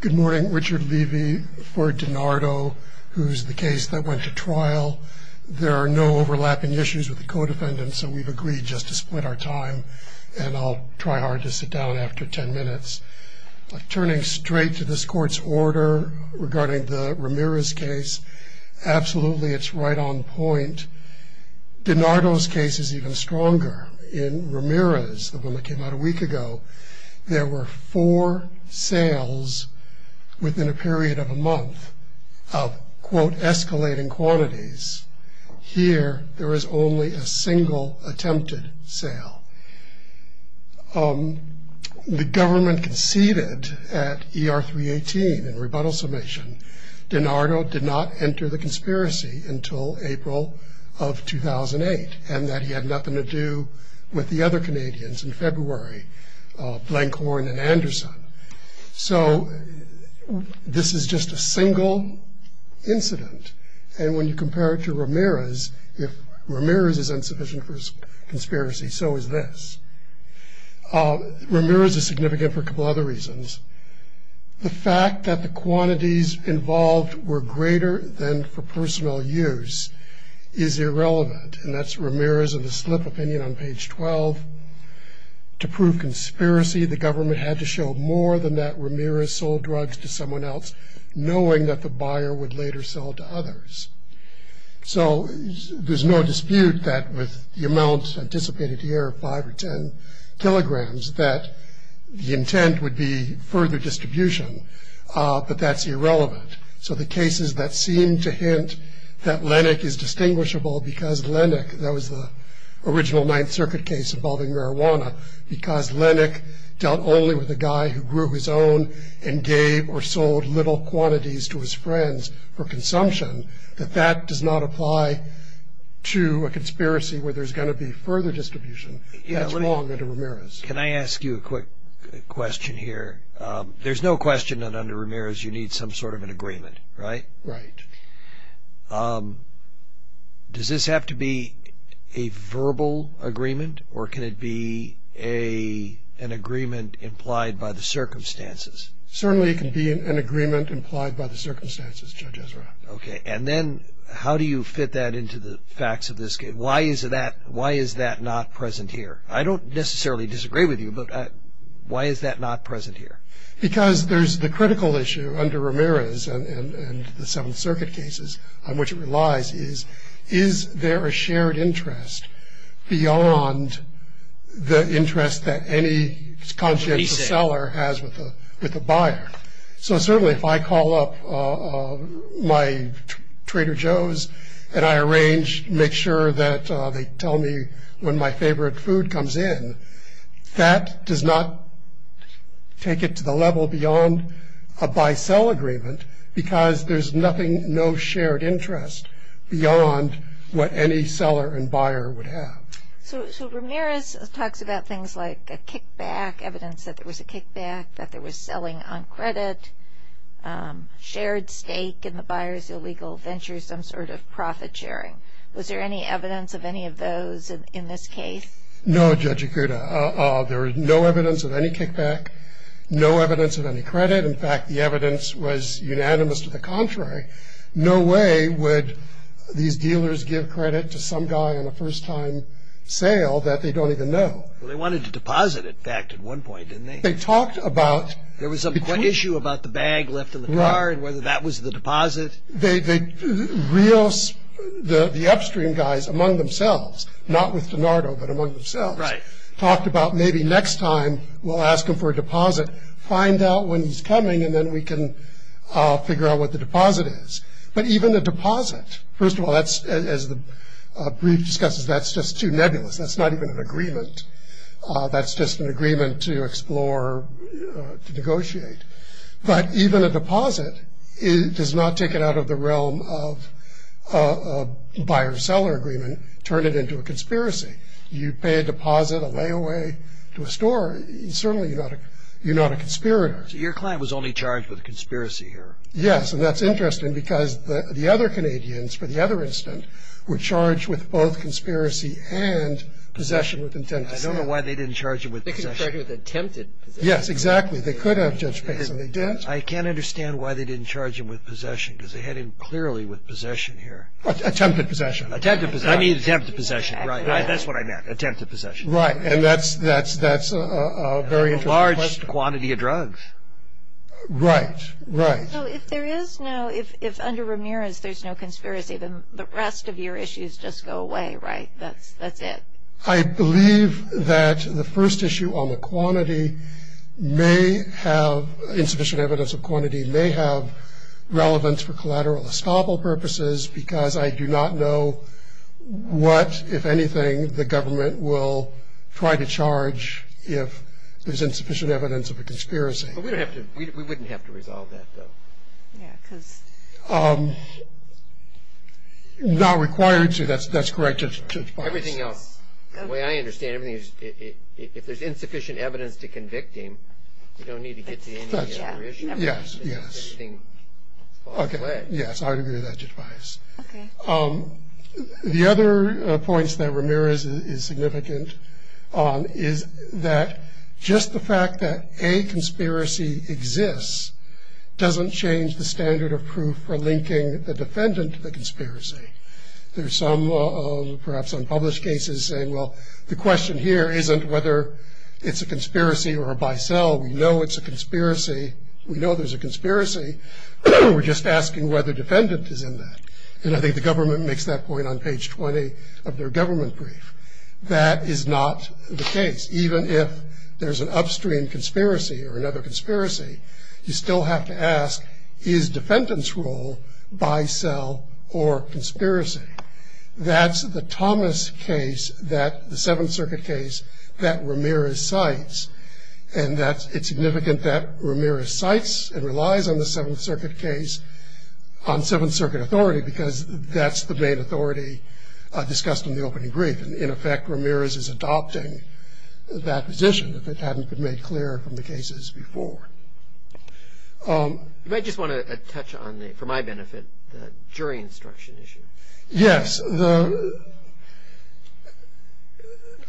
Good morning, Richard Levy for DiNardo, who's the case that went to trial. There are no overlapping issues with the co-defendants, so we've agreed just to split our time, and I'll try hard to sit down after ten minutes. Turning straight to this Court's order regarding the Ramirez case, absolutely it's right on point. DiNardo's case is even stronger. In Ramirez, the one that came out a week ago, there were four sales within a period of a month of, quote, escalating quantities. Here, there is only a single attempted sale. The government conceded at ER 318, in rebuttal summation, DiNardo did not enter the conspiracy until April of 2008, and that he had nothing to do with the other Canadians in February, Blankhorn and Anderson. So this is just a single incident, and when you compare it to Ramirez, if Ramirez is insufficient for conspiracy, so is this. Ramirez is significant for a couple other reasons. The fact that the quantities involved were greater than for personal use is irrelevant, and that's Ramirez in the slip opinion on page 12. To prove conspiracy, the government had to show more than that Ramirez sold drugs to someone else, knowing that the buyer would later sell to others. So there's no dispute that with the amount anticipated here, five or ten kilograms, that the intent would be further distribution, but that's irrelevant. So the cases that seem to hint that Lennox is distinguishable because Lennox, that was the original Ninth Circuit case involving marijuana, because Lennox dealt only with a guy who grew his own and gave or sold little quantities to his friends for consumption, that that does not apply to a conspiracy where there's going to be further distribution. That's wrong under Ramirez. Can I ask you a quick question here? There's no question that under Ramirez you need some sort of an agreement, right? Right. Does this have to be a verbal agreement, or can it be an agreement implied by the circumstances? Certainly it can be an agreement implied by the circumstances, Judge Ezra. Okay. And then how do you fit that into the facts of this case? Why is that not present here? I don't necessarily disagree with you, but why is that not present here? Because there's the critical issue under Ramirez and the Seventh Circuit cases on which it relies is, is there a shared interest beyond the interest that any conscientious seller has with a buyer? So certainly if I call up my Trader Joe's and I arrange, make sure that they tell me when my favorite food comes in, that does not take it to the level beyond a buy-sell agreement because there's nothing, no shared interest beyond what any seller and buyer would have. So Ramirez talks about things like a kickback, evidence that there was a kickback, that there was selling on credit, shared stake in the buyer's illegal venture, some sort of profit sharing. Was there any evidence of any of those in this case? No, Judge Akuta. There was no evidence of any kickback, no evidence of any credit. In fact, the evidence was unanimous to the contrary. No way would these dealers give credit to some guy on a first-time sale that they don't even know. Well, they wanted to deposit, in fact, at one point, didn't they? They talked about- There was some issue about the bag left in the car and whether that was the deposit. The upstream guys among themselves, not with DiNardo, but among themselves, talked about maybe next time we'll ask them for a deposit, find out when he's coming, and then we can figure out what the deposit is. But even the deposit, first of all, as the brief discusses, that's just too nebulous. That's not even an agreement. That's just an agreement to explore, to negotiate. But even a deposit does not take it out of the realm of a buyer-seller agreement, turn it into a conspiracy. You pay a deposit, a layaway to a store, certainly you're not a conspirator. So your client was only charged with conspiracy here? Yes, and that's interesting because the other Canadians, for the other incident, were charged with both conspiracy and possession with intent to sell. I don't know why they didn't charge him with possession. They could have charged him with attempted possession. Yes, exactly. They could have, Judge Bates, and they didn't. I can't understand why they didn't charge him with possession because they had him clearly with possession here. Attempted possession. Attempted possession. I mean attempted possession, right. That's what I meant, attempted possession. Right, and that's a very interesting question. A large quantity of drugs. Right, right. So if there is no, if under Ramirez there's no conspiracy, then the rest of your issues just go away, right? That's it? I believe that the first issue on the quantity may have, insufficient evidence of quantity may have relevance for collateral estoppel purposes because I do not know what, if anything, the government will try to charge if there's insufficient evidence of a conspiracy. But we don't have to, we wouldn't have to resolve that, though. Yeah, because. Not required to, that's correct, Judge Bates. Everything else, the way I understand it, if there's insufficient evidence to convict him, you don't need to get to any other issue. Yes, yes. Everything falls away. Yes, I agree with that, Judge Bates. Okay. The other points that Ramirez is significant on is that just the fact that a conspiracy exists doesn't change the standard of proof for linking the defendant to the conspiracy. There's some perhaps unpublished cases saying, well, the question here isn't whether it's a conspiracy or a by cell. We know it's a conspiracy. We know there's a conspiracy. We're just asking whether defendant is in that. And I think the government makes that point on page 20 of their government brief. That is not the case. Even if there's an upstream conspiracy or another conspiracy, you still have to ask, is defendant's role by cell or conspiracy? That's the Thomas case, the Seventh Circuit case, that Ramirez cites. And it's significant that Ramirez cites and relies on the Seventh Circuit case, on Seventh Circuit authority, because that's the main authority discussed in the opening brief. And in effect, Ramirez is adopting that position, if it hadn't been made clear from the cases before. You might just want to touch on, for my benefit, the jury instruction issue. Yes.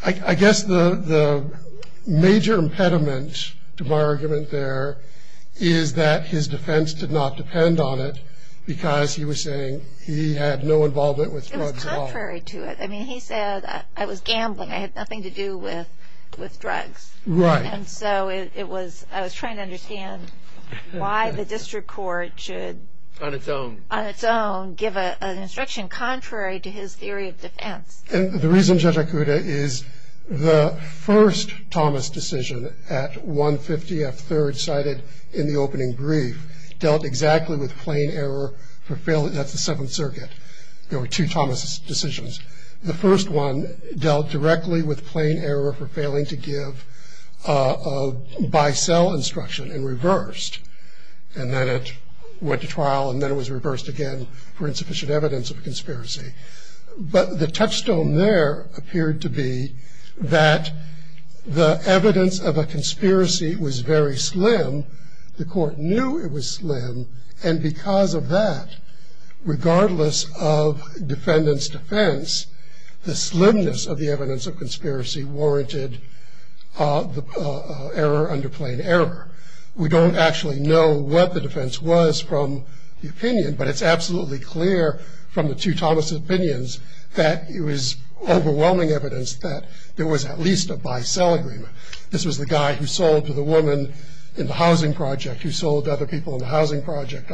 I guess the major impediment to my argument there is that his defense did not depend on it, because he was saying he had no involvement with drugs at all. It was contrary to it. I mean, he said, I was gambling. I had nothing to do with drugs. Right. And so I was trying to understand why the district court should... On its own. On its own, give an instruction contrary to his theory of defense. And the reason, Judge Akuta, is the first Thomas decision, at 150 F. Third, cited in the opening brief, dealt exactly with plain error for failure. That's the Seventh Circuit. There were two Thomas decisions. The first one dealt directly with plain error for failing to give a by-sell instruction, and reversed. And then it went to trial, and then it was reversed again for insufficient evidence of a conspiracy. But the touchstone there appeared to be that the evidence of a conspiracy was very slim. The court knew it was slim, and because of that, regardless of defendant's defense, the slimness of the evidence of conspiracy warranted the error under plain error. We don't actually know what the defense was from the opinion, but it's absolutely clear from the two Thomas opinions that it was overwhelming evidence that there was at least a by-sell agreement. This was the guy who sold to the woman in the housing project, who sold to other people in the housing project.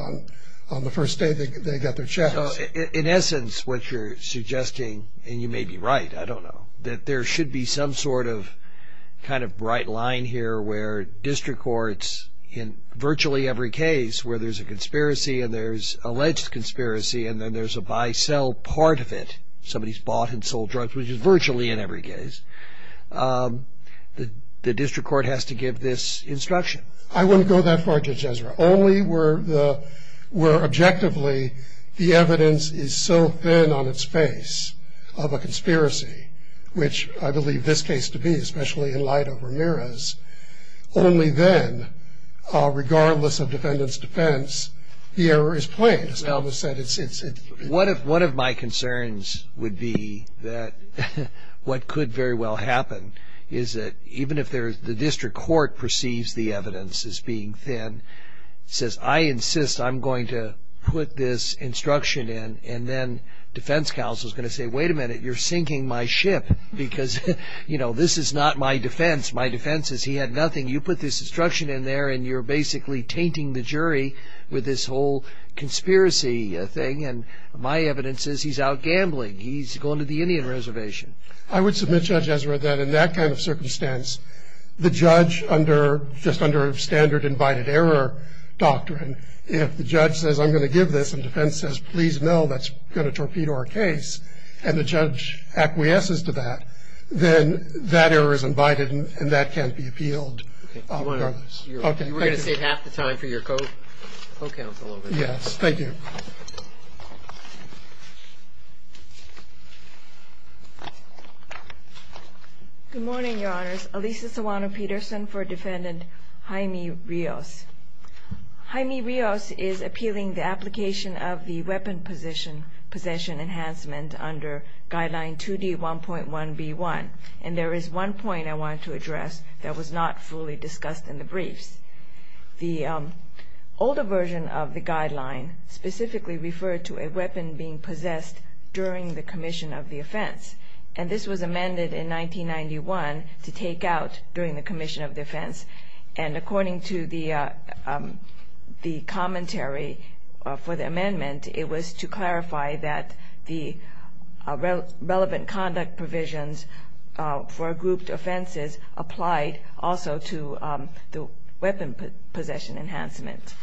On the first day, they got their checks. In essence, what you're suggesting, and you may be right, I don't know, that there should be some sort of kind of bright line here where district courts, in virtually every case where there's a conspiracy, and there's alleged conspiracy, and then there's a by-sell part of it, somebody's bought and sold drugs, which is virtually in every case, the district court has to give this instruction. I wouldn't go that far, Judge Ezra. Only where objectively the evidence is so thin on its face of a conspiracy, which I believe this case to be, especially in light of Ramirez, only then, regardless of defendant's defense, the error is plain. As Elvis said, it's... One of my concerns would be that what could very well happen is that even if the district court perceives the evidence as being thin, says, I insist I'm going to put this instruction in, and then defense counsel's going to say, wait a minute, you're sinking my ship, because this is not my defense. My defense is he had nothing. You put this instruction in there, and you're basically tainting the jury with this whole conspiracy thing, and my evidence is he's out gambling. He's going to the Indian Reservation. I would submit, Judge Ezra, that in that kind of circumstance, the judge under just under standard invited error doctrine, if the judge says I'm going to give this and defense says, please no, that's going to torpedo our case, and the judge acquiesces to that, then that error is invited and that can't be appealed. Okay. You were going to save half the time for your co-counsel over there. Thank you. Good morning, Your Honors. Alisa Sawano-Peterson for Defendant Jaime Rios. Jaime Rios is appealing the application of the weapon possession enhancement under Guideline 2D1.1b1, and there is one point I want to address that was not fully discussed in the briefs. It specifically referred to a weapon being possessed during the commission of the offense, and this was amended in 1991 to take out during the commission of the offense, and according to the commentary for the amendment, it was to clarify that the relevant conduct provisions for grouped offenses applied also to the weapon possession enhancement.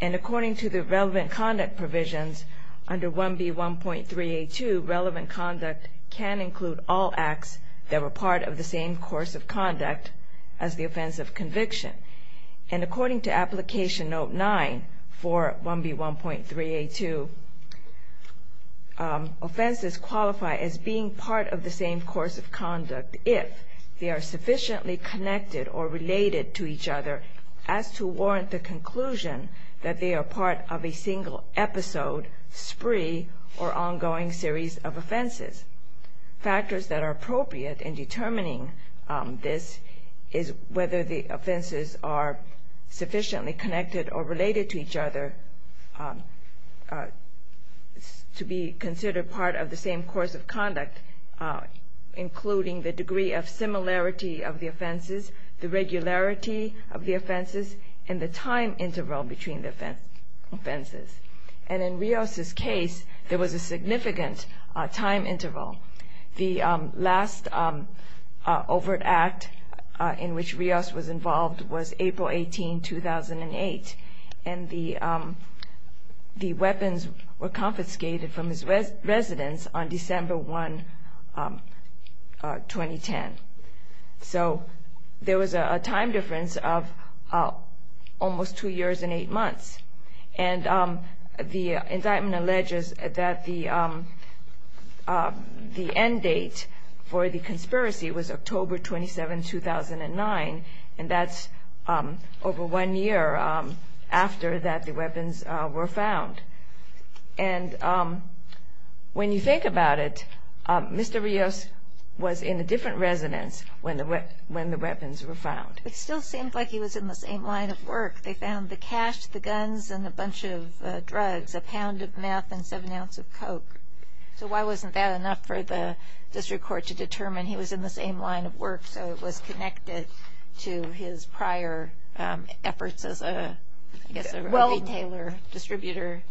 And according to the relevant conduct provisions under 1B1.3a2, relevant conduct can include all acts that were part of the same course of conduct as the offense of conviction. And according to Application Note 9 for 1B1.3a2, offenses qualify as being part of the same course of conduct if they are sufficiently connected or related to each other as to warrant the conclusion that they are part of a single episode, spree, or ongoing series of offenses. Factors that are appropriate in determining this is whether the offenses are sufficiently connected or related to each other to be considered part of the same course of conduct, including the degree of similarity of the offenses, the regularity of the offenses, and the time interval between the offenses. And in Rios' case, there was a significant time interval. The last overt act in which Rios was involved was April 18, 2008, and the weapons were confiscated from his residence on December 1, 2010. So there was a time difference of almost two years and eight months. And the indictment alleges that the end date for the conspiracy was October 27, 2009, and that's over one year after that the weapons were found. And when you think about it, Mr. Rios was in a different residence when the weapons were found. It still seemed like he was in the same line of work. They found the cash, the guns, and a bunch of drugs, a pound of meth and seven ounces of coke. So why wasn't that enough for the district court to determine he was in the same line of work so it was connected to his prior efforts as a retailer, distributor?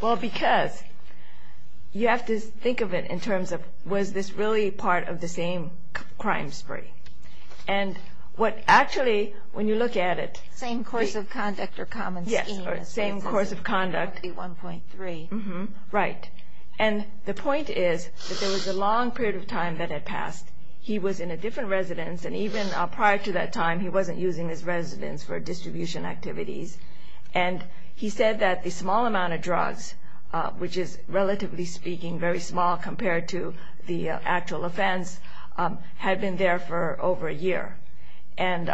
Well, because you have to think of it in terms of was this really part of the same crime spree? And what actually, when you look at it... Same course of conduct or common scheme. Yes, same course of conduct. 1.3. Right. He was in a different residence, and even prior to that time he wasn't using his residence for distribution activities. And he said that the small amount of drugs, which is relatively speaking very small compared to the actual offense, had been there for over a year. And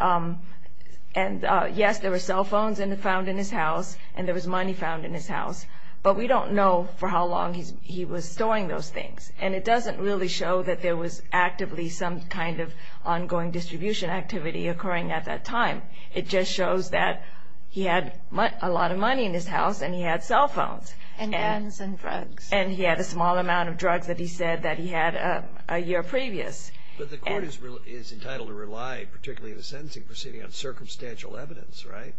yes, there were cell phones found in his house, and there was money found in his house, but we don't know for how long he was storing those things. And it doesn't really show that there was actively some kind of ongoing distribution activity occurring at that time. It just shows that he had a lot of money in his house, and he had cell phones. And guns and drugs. And he had a small amount of drugs that he said that he had a year previous. But the court is entitled to rely, particularly in a sentencing proceeding, on circumstantial evidence, right?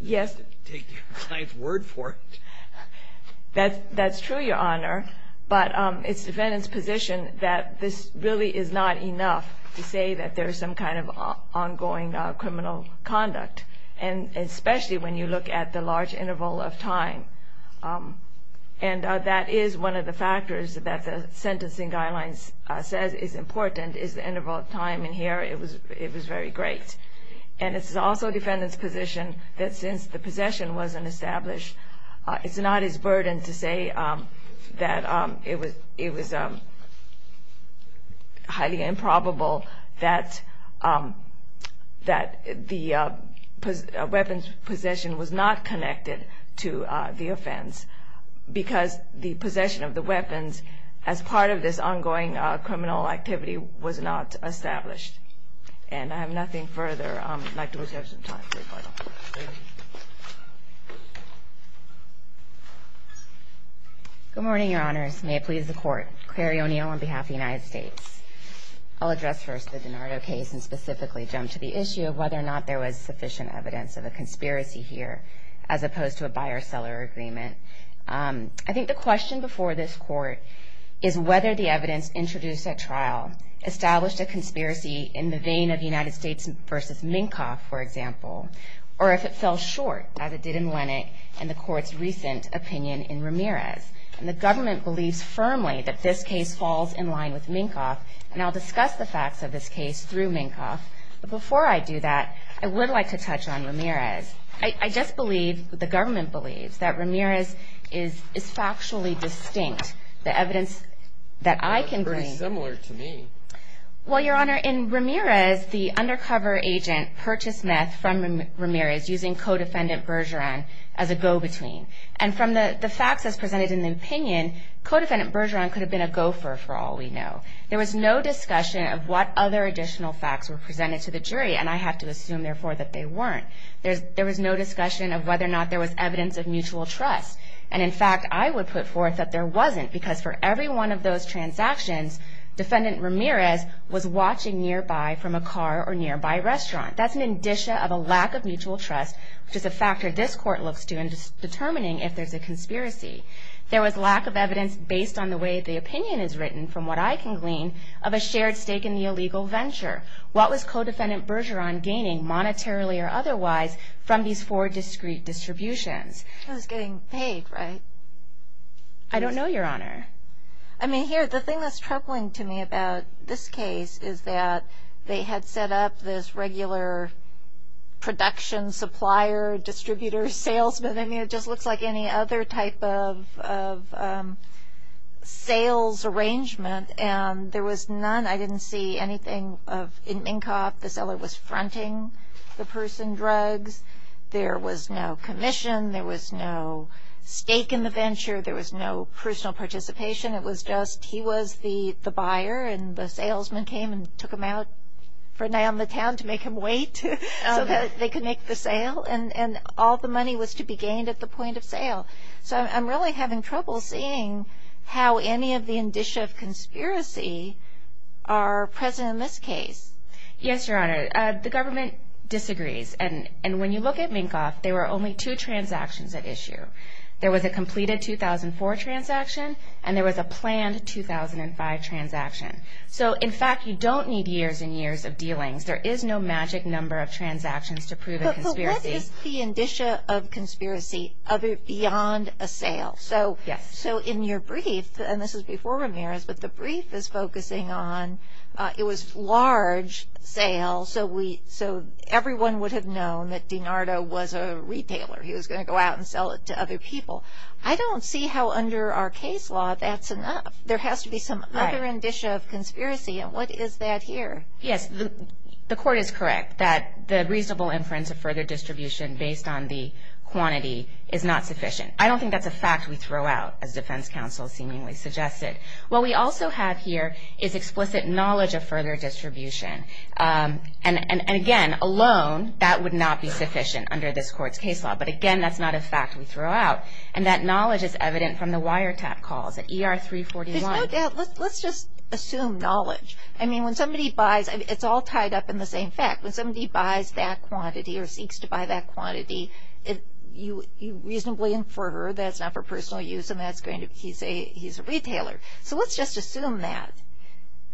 Yes. To take the client's word for it. That's true, Your Honor. But it's the defendant's position that this really is not enough to say that there is some kind of ongoing criminal conduct. And especially when you look at the large interval of time. And that is one of the factors that the sentencing guidelines says is important, is the interval of time. And here it was very great. And it's also the defendant's position that since the possession wasn't established, it's not his burden to say that it was highly improbable that the weapons possession was not connected to the offense. Because the possession of the weapons as part of this ongoing criminal activity was not established. And I have nothing further. I'd like to reserve some time for rebuttal. Thank you. Good morning, Your Honors. May it please the Court. Clary O'Neill on behalf of the United States. I'll address first the DiNardo case and specifically jump to the issue of whether or not there was sufficient evidence of a conspiracy here, as opposed to a buyer-seller agreement. I think the question before this Court is whether the evidence introduced at trial established a conspiracy in the vein of United States versus Minkoff, for example. Or if it fell short, as it did in Lennox and the Court's recent opinion in Ramirez. And the government believes firmly that this case falls in line with Minkoff. And I'll discuss the facts of this case through Minkoff. But before I do that, I would like to touch on Ramirez. I just believe, the government believes, that Ramirez is factually distinct. The evidence that I can bring. It's pretty similar to me. Well, Your Honor, in Ramirez, the undercover agent purchased meth from Ramirez using co-defendant Bergeron as a go-between. And from the facts as presented in the opinion, co-defendant Bergeron could have been a gopher, for all we know. There was no discussion of what other additional facts were presented to the jury. And I have to assume, therefore, that they weren't. There was no discussion of whether or not there was evidence of mutual trust. And, in fact, I would put forth that there wasn't. Because for every one of those transactions, defendant Ramirez was watching nearby from a car or nearby restaurant. That's an indicia of a lack of mutual trust, which is a factor this Court looks to in determining if there's a conspiracy. There was lack of evidence, based on the way the opinion is written, from what I can glean, of a shared stake in the illegal venture. What was co-defendant Bergeron gaining, monetarily or otherwise, from these four discrete distributions? I was getting paid, right? I don't know, Your Honor. I mean, here, the thing that's troubling to me about this case is that they had set up this regular production, supplier, distributor, salesman. I mean, it just looks like any other type of sales arrangement. And there was none. I didn't see anything of, in Minkoff, the seller was fronting the person drugs. There was no commission. There was no stake in the venture. There was no personal participation. It was just he was the buyer, and the salesman came and took him out for a night on the town to make him wait so that they could make the sale. So I'm really having trouble seeing how any of the indicia of conspiracy are present in this case. Yes, Your Honor. The government disagrees. And when you look at Minkoff, there were only two transactions at issue. There was a completed 2004 transaction, and there was a planned 2005 transaction. So, in fact, you don't need years and years of dealings. There is no magic number of transactions to prove a conspiracy. What is the indicia of conspiracy beyond a sale? Yes. So in your brief, and this is before Ramirez, but the brief is focusing on it was large sales, so everyone would have known that DiNardo was a retailer. He was going to go out and sell it to other people. I don't see how under our case law that's enough. There has to be some other indicia of conspiracy, and what is that here? Yes. The court is correct that the reasonable inference of further distribution based on the quantity is not sufficient. I don't think that's a fact we throw out, as defense counsel seemingly suggested. What we also have here is explicit knowledge of further distribution. And, again, alone, that would not be sufficient under this court's case law. But, again, that's not a fact we throw out, and that knowledge is evident from the wiretap calls at ER 341. There's no doubt. Let's just assume knowledge. I mean, when somebody buys, it's all tied up in the same fact. When somebody buys that quantity or seeks to buy that quantity, you reasonably infer that it's not for personal use and that he's a retailer. So let's just assume that.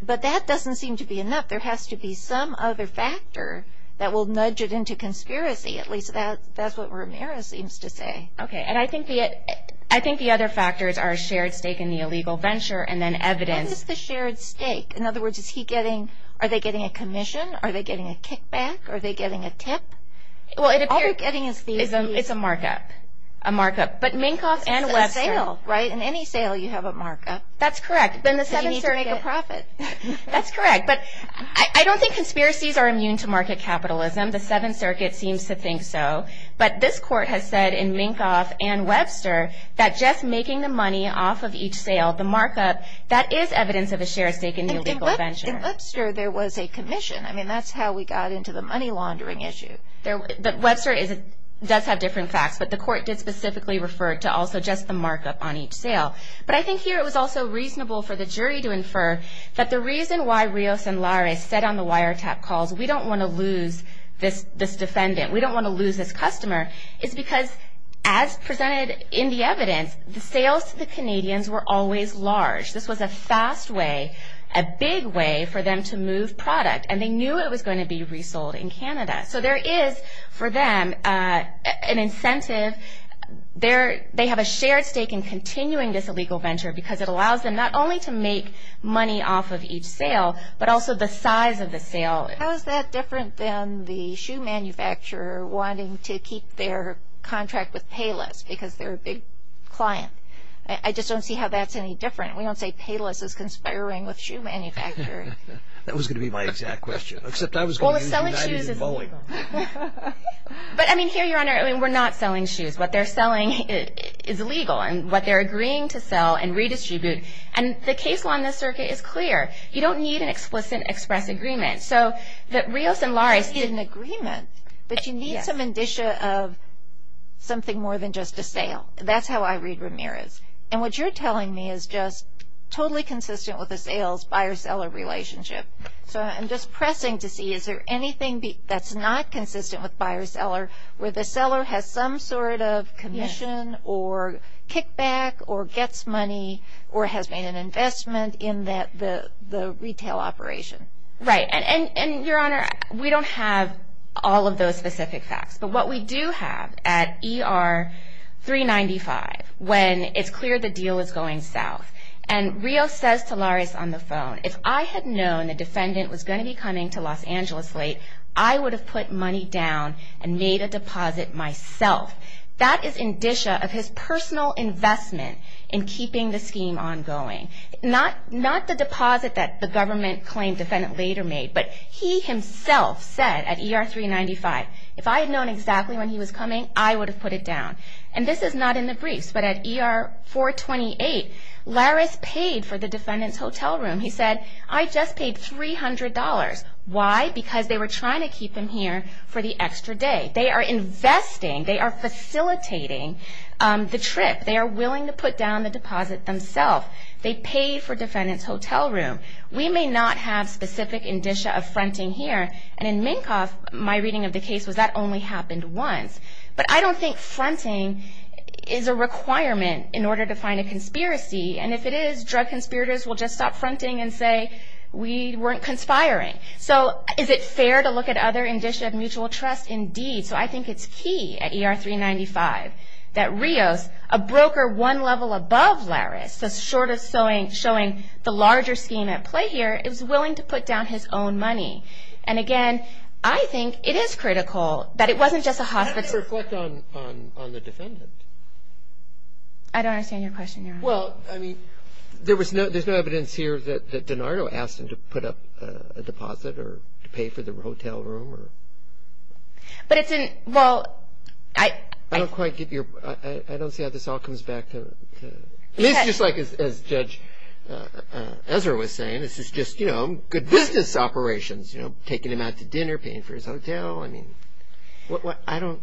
But that doesn't seem to be enough. There has to be some other factor that will nudge it into conspiracy. At least that's what Ramirez seems to say. Okay. And I think the other factors are shared stake in the illegal venture and then evidence. What is the shared stake? In other words, are they getting a commission? Are they getting a kickback? Are they getting a tip? All they're getting is these. It's a markup. A markup. But Minkoff and Webster. It's a sale, right? In any sale, you have a markup. That's correct. Then the Seventh Circuit. So you need to make a profit. That's correct. But I don't think conspiracies are immune to market capitalism. The Seventh Circuit seems to think so. But this court has said in Minkoff and Webster that just making the money off of each sale, the markup, that is evidence of a shared stake in the illegal venture. In Webster, there was a commission. I mean, that's how we got into the money laundering issue. Webster does have different facts. But the court did specifically refer to also just the markup on each sale. But I think here it was also reasonable for the jury to infer that the reason why Rios and Laris said on the wiretap calls, we don't want to lose this defendant, we don't want to lose this customer, is because as presented in the evidence, the sales to the Canadians were always large. This was a fast way, a big way for them to move product. And they knew it was going to be resold in Canada. So there is for them an incentive. They have a shared stake in continuing this illegal venture because it allows them not only to make money off of each sale, but also the size of the sale. How is that different than the shoe manufacturer wanting to keep their contract with Payless because they're a big client? I just don't see how that's any different. We don't say Payless is conspiring with shoe manufacturers. That was going to be my exact question. Well, the selling of shoes is illegal. But, I mean, here, Your Honor, we're not selling shoes. What they're selling is illegal and what they're agreeing to sell and redistribute. And the case law in this circuit is clear. You don't need an explicit express agreement. So the Rios and Lares need an agreement, but you need some indicia of something more than just a sale. That's how I read Ramirez. And what you're telling me is just totally consistent with the sales-buyer-seller relationship. So I'm just pressing to see is there anything that's not consistent with buyer-seller, where the seller has some sort of commission or kickback or gets money or has made an investment in the retail operation. Right. And, Your Honor, we don't have all of those specific facts. But what we do have at ER 395, when it's clear the deal is going south, and Rios says to Lares on the phone, if I had known the defendant was going to be coming to Los Angeles late, I would have put money down and made a deposit myself. That is indicia of his personal investment in keeping the scheme ongoing. Not the deposit that the government-claimed defendant later made, but he himself said at ER 395, if I had known exactly when he was coming, I would have put it down. And this is not in the briefs, but at ER 428, Lares paid for the defendant's hotel room. He said, I just paid $300. Why? Because they were trying to keep him here for the extra day. They are investing. They are facilitating the trip. They are willing to put down the deposit themselves. They paid for defendant's hotel room. We may not have specific indicia of fronting here. And in Minkoff, my reading of the case was that only happened once. But I don't think fronting is a requirement in order to find a conspiracy. And if it is, drug conspirators will just stop fronting and say, we weren't conspiring. So is it fair to look at other indicia of mutual trust? Indeed. So I think it's key at ER 395 that Rios, a broker one level above Lares, the shortest showing the larger scheme at play here, is willing to put down his own money. And, again, I think it is critical that it wasn't just a hospital. How do you reflect on the defendant? I don't understand your question, Your Honor. Well, I mean, there's no evidence here that DiNardo asked him to put up a deposit or to pay for the hotel room. But it's in – well, I – I don't quite get your – I don't see how this all comes back to – it's just like as Judge Ezra was saying, this is just, you know, good business operations, you know, taking him out to dinner, paying for his hotel. I mean, I don't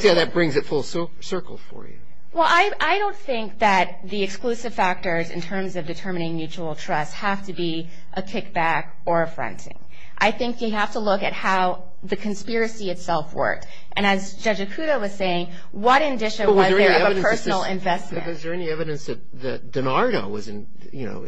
see how that brings it full circle for you. Well, I don't think that the exclusive factors in terms of determining mutual trust have to be a kickback or a fronting. I think you have to look at how the conspiracy itself worked. And as Judge Ikuda was saying, what indicia was there of a personal investment? But was there any evidence that DiNardo was in – you know,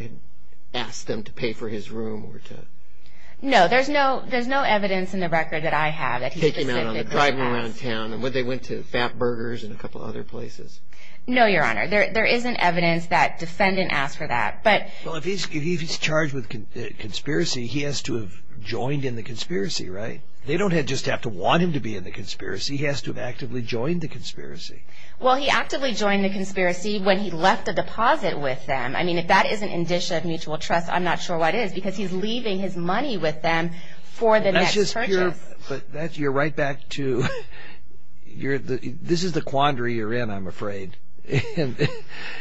asked them to pay for his room or to – No, there's no evidence in the record that I have that he specifically asked. To take him out on the drive around town and they went to Fat Burgers and a couple other places. No, Your Honor. There isn't evidence that defendant asked for that. Well, if he's charged with conspiracy, he has to have joined in the conspiracy, right? They don't just have to want him to be in the conspiracy. He has to have actively joined the conspiracy. Well, he actively joined the conspiracy when he left a deposit with them. I mean, if that is an indicia of mutual trust, I'm not sure what is because he's leaving his money with them for the next purchase. But you're right back to – this is the quandary you're in, I'm afraid. And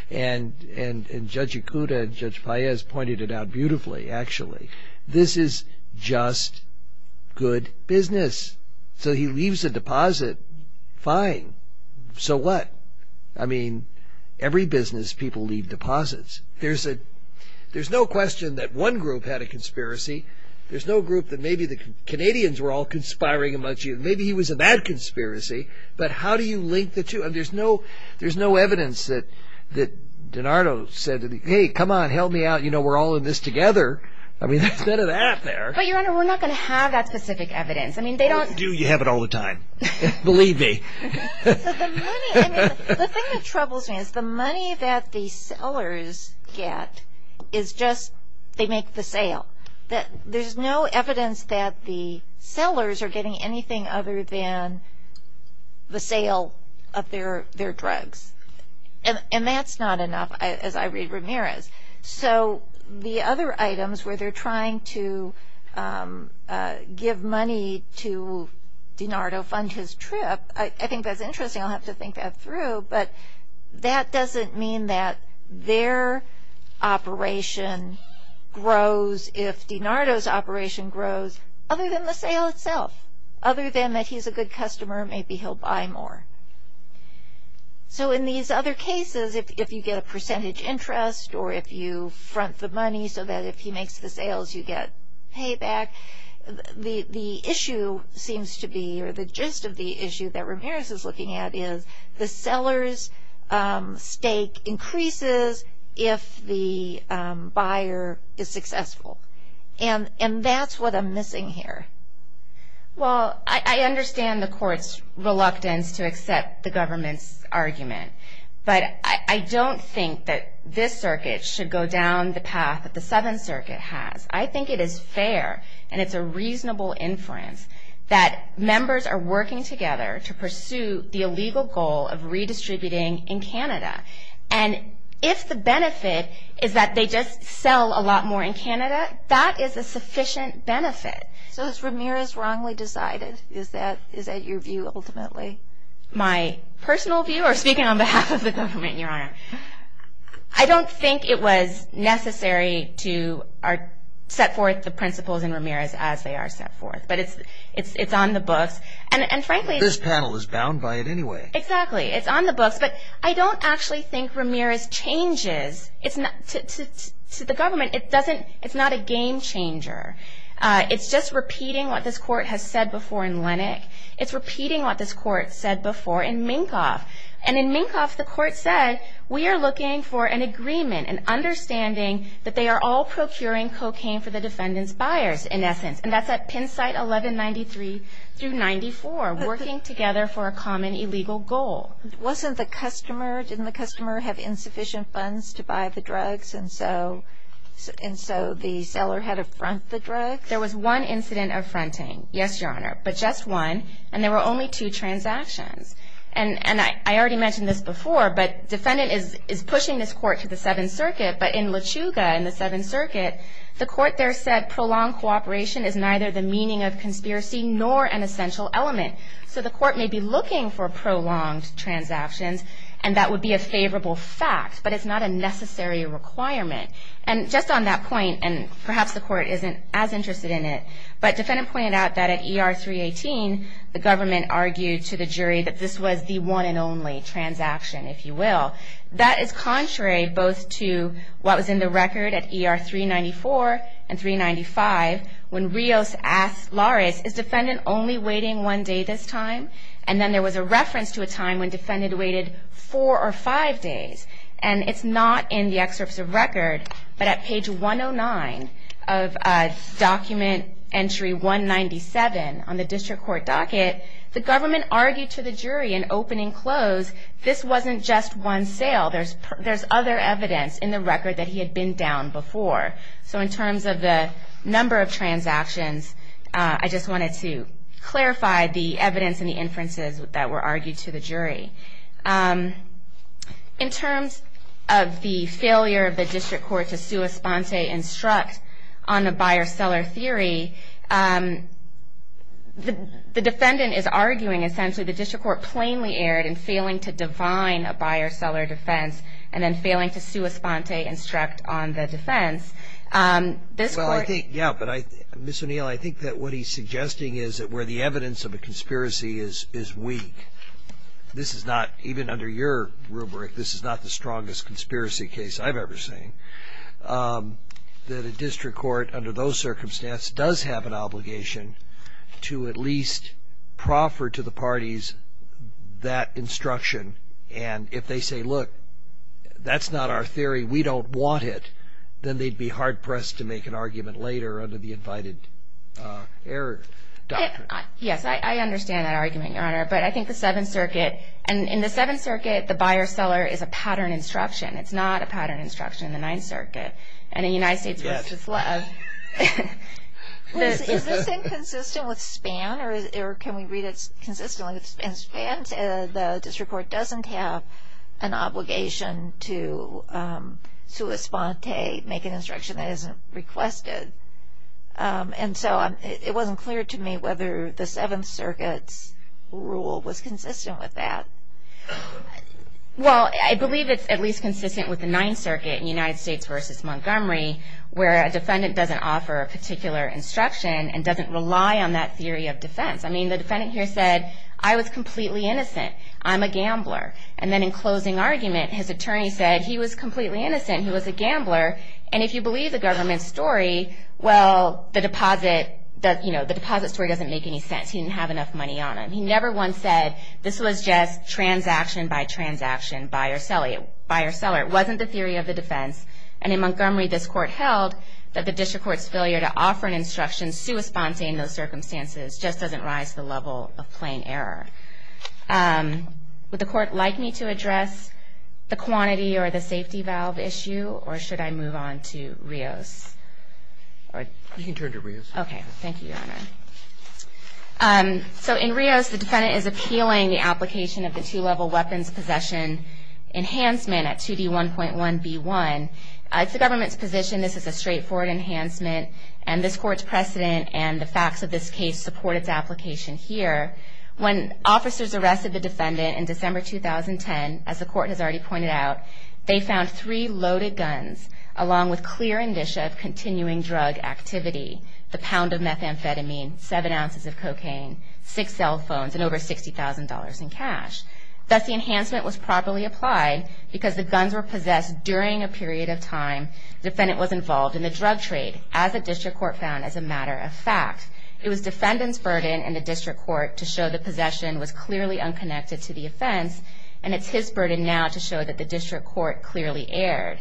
Judge Ikuda and Judge Paez pointed it out beautifully, actually. This is just good business. So he leaves a deposit. Fine. So what? I mean, every business people leave deposits. There's no question that one group had a conspiracy. There's no group that maybe the Canadians were all conspiring amongst you. Maybe he was a bad conspiracy. But how do you link the two? I mean, there's no evidence that DiNardo said, hey, come on, help me out, you know, we're all in this together. I mean, there's none of that there. But, Your Honor, we're not going to have that specific evidence. I mean, they don't – Do you have it all the time? Believe me. The thing that troubles me is the money that the sellers get is just they make the sale. There's no evidence that the sellers are getting anything other than the sale of their drugs. And that's not enough, as I read Ramirez. So the other items where they're trying to give money to DiNardo, fund his trip, I think that's interesting. I'll have to think that through. But that doesn't mean that their operation grows if DiNardo's operation grows, other than the sale itself. Other than that he's a good customer, maybe he'll buy more. So in these other cases, if you get a percentage interest or if you front the money so that if he makes the sales you get payback, the issue seems to be, or the gist of the issue that Ramirez is looking at is the seller's stake increases if the buyer is successful. And that's what I'm missing here. Well, I understand the court's reluctance to accept the government's argument. But I don't think that this circuit should go down the path that the Seventh Circuit has. I think it is fair and it's a reasonable inference that members are working together to pursue the illegal goal of redistributing in Canada. And if the benefit is that they just sell a lot more in Canada, that is a sufficient benefit. So is Ramirez wrongly decided? Is that your view ultimately? My personal view, or speaking on behalf of the government, Your Honor, I don't think it was necessary to set forth the principles in Ramirez as they are set forth. But it's on the books. This panel is bound by it anyway. Exactly. It's on the books. But I don't actually think Ramirez changes to the government. It's not a game changer. It's just repeating what this court has said before in Lennox. It's repeating what this court said before in Minkoff. And in Minkoff, the court said we are looking for an agreement, an understanding that they are all procuring cocaine for the defendant's buyers in essence. And that's at Penn site 1193 through 94, working together for a common illegal goal. Wasn't the customer, didn't the customer have insufficient funds to buy the drugs and so the seller had to front the drugs? There was one incident of fronting. Yes, Your Honor, but just one. And there were only two transactions. And I already mentioned this before, but defendant is pushing this court to the Seventh Circuit, but in Lechuga in the Seventh Circuit, the court there said prolonged cooperation is neither the meaning of conspiracy nor an essential element. So the court may be looking for prolonged transactions, and that would be a favorable fact, but it's not a necessary requirement. And just on that point, and perhaps the court isn't as interested in it, but defendant pointed out that at ER 318, the government argued to the jury that this was the one and only transaction, if you will. That is contrary both to what was in the record at ER 394 and 395 when Rios asked Laris, is defendant only waiting one day this time? And then there was a reference to a time when defendant waited four or five days. And it's not in the excerpts of record, but at page 109 of document entry 197 on the district court docket, the government argued to the jury in opening close, this wasn't just one sale. There's other evidence in the record that he had been down before. So in terms of the number of transactions, I just wanted to clarify the evidence and the inferences that were argued to the jury. In terms of the failure of the district court to sua sponte instruct on the buyer-seller theory, the defendant is arguing essentially the district court plainly erred in failing to define a buyer-seller defense and then failing to sua sponte instruct on the defense. This court ---- Well, I think, yeah, but I, Ms. O'Neill, I think that what he's suggesting is that where the evidence of a conspiracy is weak. This is not, even under your rubric, this is not the strongest conspiracy case I've ever seen, that a district court under those circumstances does have an obligation to at least proffer to the parties that instruction. And if they say, look, that's not our theory, we don't want it, then they'd be hard-pressed to make an argument later under the invited error doctrine. Yes, I understand that argument, Your Honor. But I think the Seventh Circuit, and in the Seventh Circuit, the buyer-seller is a pattern instruction. It's not a pattern instruction in the Ninth Circuit. And in the United States ---- Yes. Is this thing consistent with SPAN, or can we read it consistently? In SPAN, the district court doesn't have an obligation to sua sponte, make an instruction that isn't requested. And so it wasn't clear to me whether the Seventh Circuit's rule was consistent with that. Well, I believe it's at least consistent with the Ninth Circuit in United States v. Montgomery, where a defendant doesn't offer a particular instruction and doesn't rely on that theory of defense. I mean, the defendant here said, I was completely innocent, I'm a gambler. And then in closing argument, his attorney said, he was completely innocent, he was a gambler. And if you believe the government's story, well, the deposit story doesn't make any sense. He didn't have enough money on him. He never once said, this was just transaction by transaction, buyer-seller. It wasn't the theory of the defense. And in Montgomery, this Court held that the district court's failure to offer an instruction sua sponte in those circumstances just doesn't rise to the level of plain error. Would the Court like me to address the quantity or the safety valve issue, or should I move on to Rios? All right. You can turn to Rios. Okay. Thank you, Your Honor. So in Rios, the defendant is appealing the application of the two-level weapons possession enhancement at 2D1.1b1. It's the government's position this is a straightforward enhancement, and this Court's precedent and the facts of this case support its application here. When officers arrested the defendant in December 2010, as the Court has already pointed out, they found three loaded guns, along with clear indicia of continuing drug activity, the pound of methamphetamine, seven ounces of cocaine, six cell phones, and over $60,000 in cash. Thus, the enhancement was properly applied because the guns were possessed during a period of time the defendant was involved in the drug trade, as the district court found as a matter of fact. It was defendant's burden in the district court to show the possession was clearly unconnected to the offense, and it's his burden now to show that the district court clearly erred.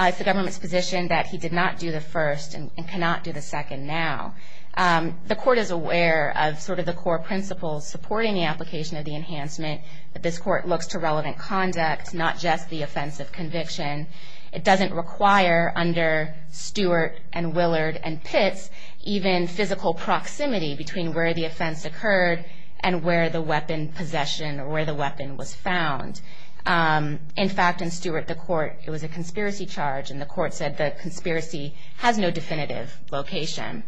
It's the government's position that he did not do the first and cannot do the second now. The Court is aware of sort of the core principles supporting the application of the enhancement, that this Court looks to relevant conduct, not just the offense of conviction. It doesn't require, under Stewart and Willard and Pitts, even physical proximity between where the offense occurred and where the weapon possession or where the weapon was found. In fact, in Stewart, the Court, it was a conspiracy charge, and the Court said the conspiracy has no definitive location.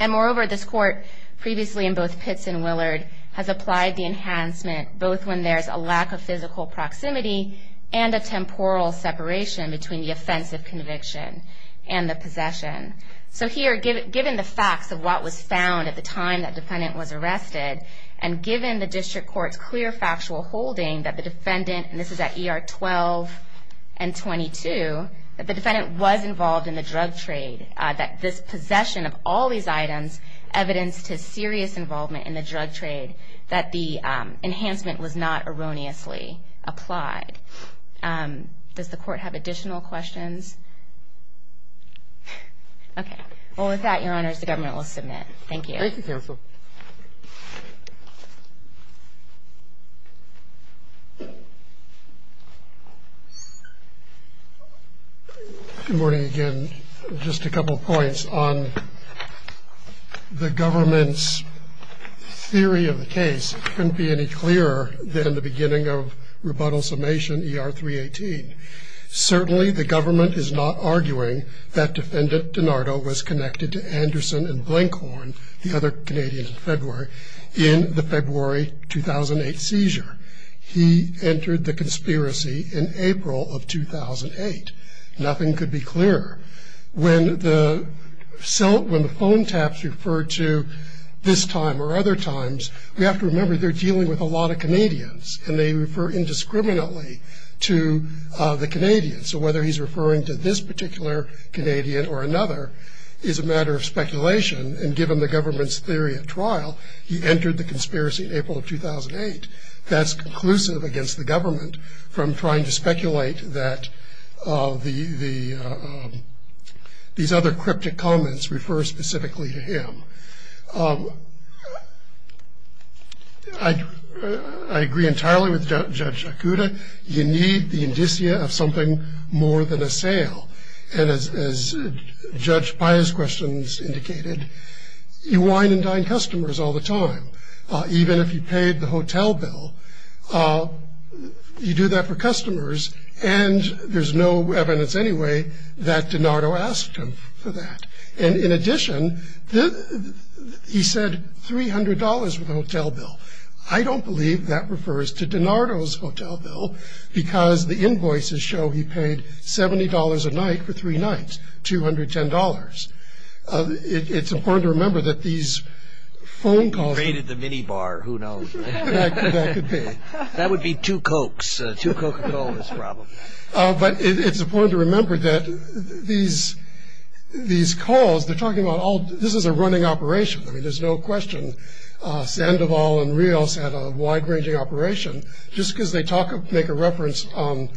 And moreover, this Court, previously in both Pitts and Willard, has applied the enhancement, both when there's a lack of physical proximity and a temporal separation between the offense of conviction and the possession. So here, given the facts of what was found at the time that defendant was arrested, and given the district court's clear factual holding that the defendant, and this is at ER 12 and 22, that the defendant was involved in the drug trade, that this possession of all these items evidenced his serious involvement in the drug trade, that the enhancement was not erroneously applied. Does the Court have additional questions? Okay. Well, with that, Your Honors, the government will submit. Thank you. Thank you, counsel. Good morning again. Just a couple points on the government's theory of the case. It couldn't be any clearer than the beginning of rebuttal summation ER 318. Certainly, the government is not arguing that defendant DiNardo was connected to Anderson and Blankhorn, the other Canadians in February, in the February 2008 seizure. He entered the conspiracy in April of 2008. Nothing could be clearer. When the phone taps refer to this time or other times, we have to remember they're dealing with a lot of Canadians, and they refer indiscriminately to the Canadians. So whether he's referring to this particular Canadian or another is a matter of speculation, and given the government's theory at trial, he entered the conspiracy in April of 2008. That's conclusive against the government from trying to speculate that these other cryptic comments refer specifically to him. I agree entirely with Judge Akuta. You need the indicia of something more than a sale. And as Judge Paya's questions indicated, you wine and dine customers all the time. Even if you paid the hotel bill, you do that for customers, and there's no evidence anyway that DiNardo asked him for that. And in addition, he said $300 for the hotel bill. I don't believe that refers to DiNardo's hotel bill, because the invoices show he paid $70 a night for three nights, $210. It's important to remember that these phone calls... If you raided the minibar, who knows? That could be. That would be two Cokes, two Coca-Colas probably. But it's important to remember that these calls, they're talking about all... This is a running operation. I mean, there's no question Sandoval and Rios had a wide-ranging operation. Just because they make a reference on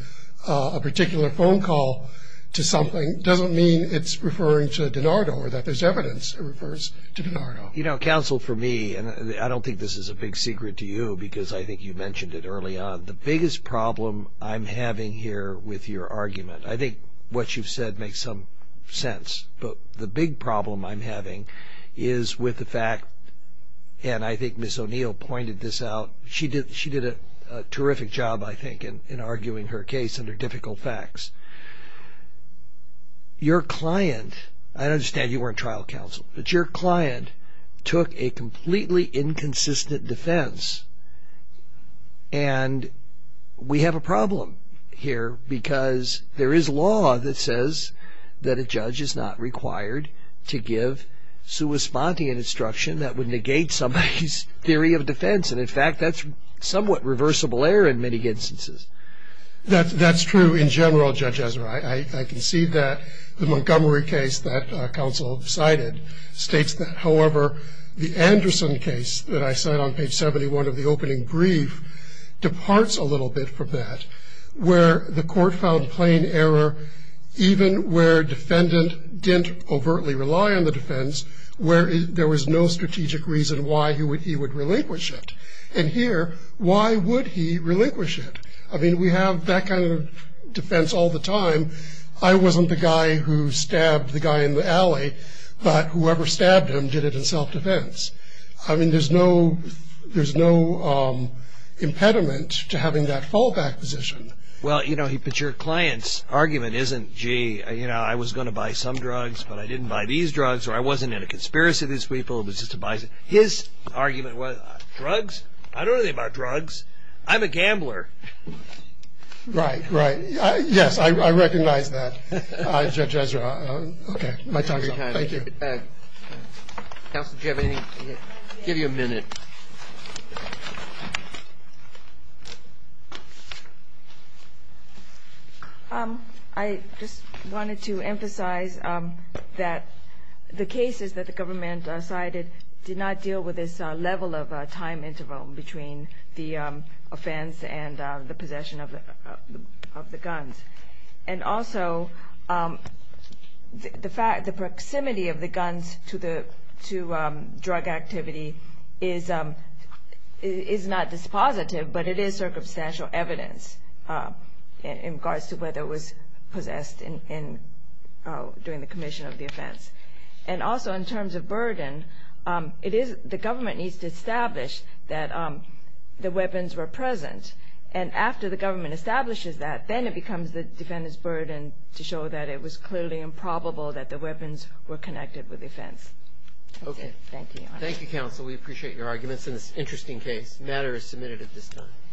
a particular phone call to something doesn't mean it's referring to DiNardo or that there's evidence it refers to DiNardo. You know, counsel, for me, and I don't think this is a big secret to you, because I think you mentioned it early on, the biggest problem I'm having here with your argument, I think what you've said makes some sense. But the big problem I'm having is with the fact, and I think Ms. O'Neill pointed this out, she did a terrific job, I think, in arguing her case under difficult facts. Your client, I understand you weren't trial counsel, but your client took a completely inconsistent defense, and we have a problem here because there is law that says that a judge is not required to give sua sponte instruction that would negate somebody's theory of defense. And, in fact, that's somewhat reversible error in many instances. That's true in general, Judge Ezra. I can see that the Montgomery case that counsel cited states that. However, the Anderson case that I cited on page 71 of the opening brief departs a little bit from that, where the court found plain error even where defendant didn't overtly rely on the defense, where there was no strategic reason why he would relinquish it. And here, why would he relinquish it? I mean, we have that kind of defense all the time. I wasn't the guy who stabbed the guy in the alley, but whoever stabbed him did it in self-defense. I mean, there's no impediment to having that fallback position. Well, you know, your client's argument isn't, gee, you know, I was going to buy some drugs, but I didn't buy these drugs, or I wasn't in a conspiracy against people, it was just a buy. His argument was drugs? I don't know anything about drugs. I'm a gambler. Right, right. Yes, I recognize that, Judge Ezra. Okay, my time's up. Thank you. Counsel, do you have anything? I'll give you a minute. I just wanted to emphasize that the cases that the government cited did not deal with this level of time interval between the offense and the possession of the guns. And also, the proximity of the guns to drug activity is not dispositive, but it is circumstantial evidence in regards to whether it was possessed during the commission of the offense. And also, in terms of burden, the government needs to establish that the weapons were present. And after the government establishes that, then it becomes the defendant's burden to show that it was clearly improbable that the weapons were connected with the offense. Okay. Thank you, Your Honor. Thank you, Counsel. We appreciate your arguments in this interesting case. The matter is submitted at this time.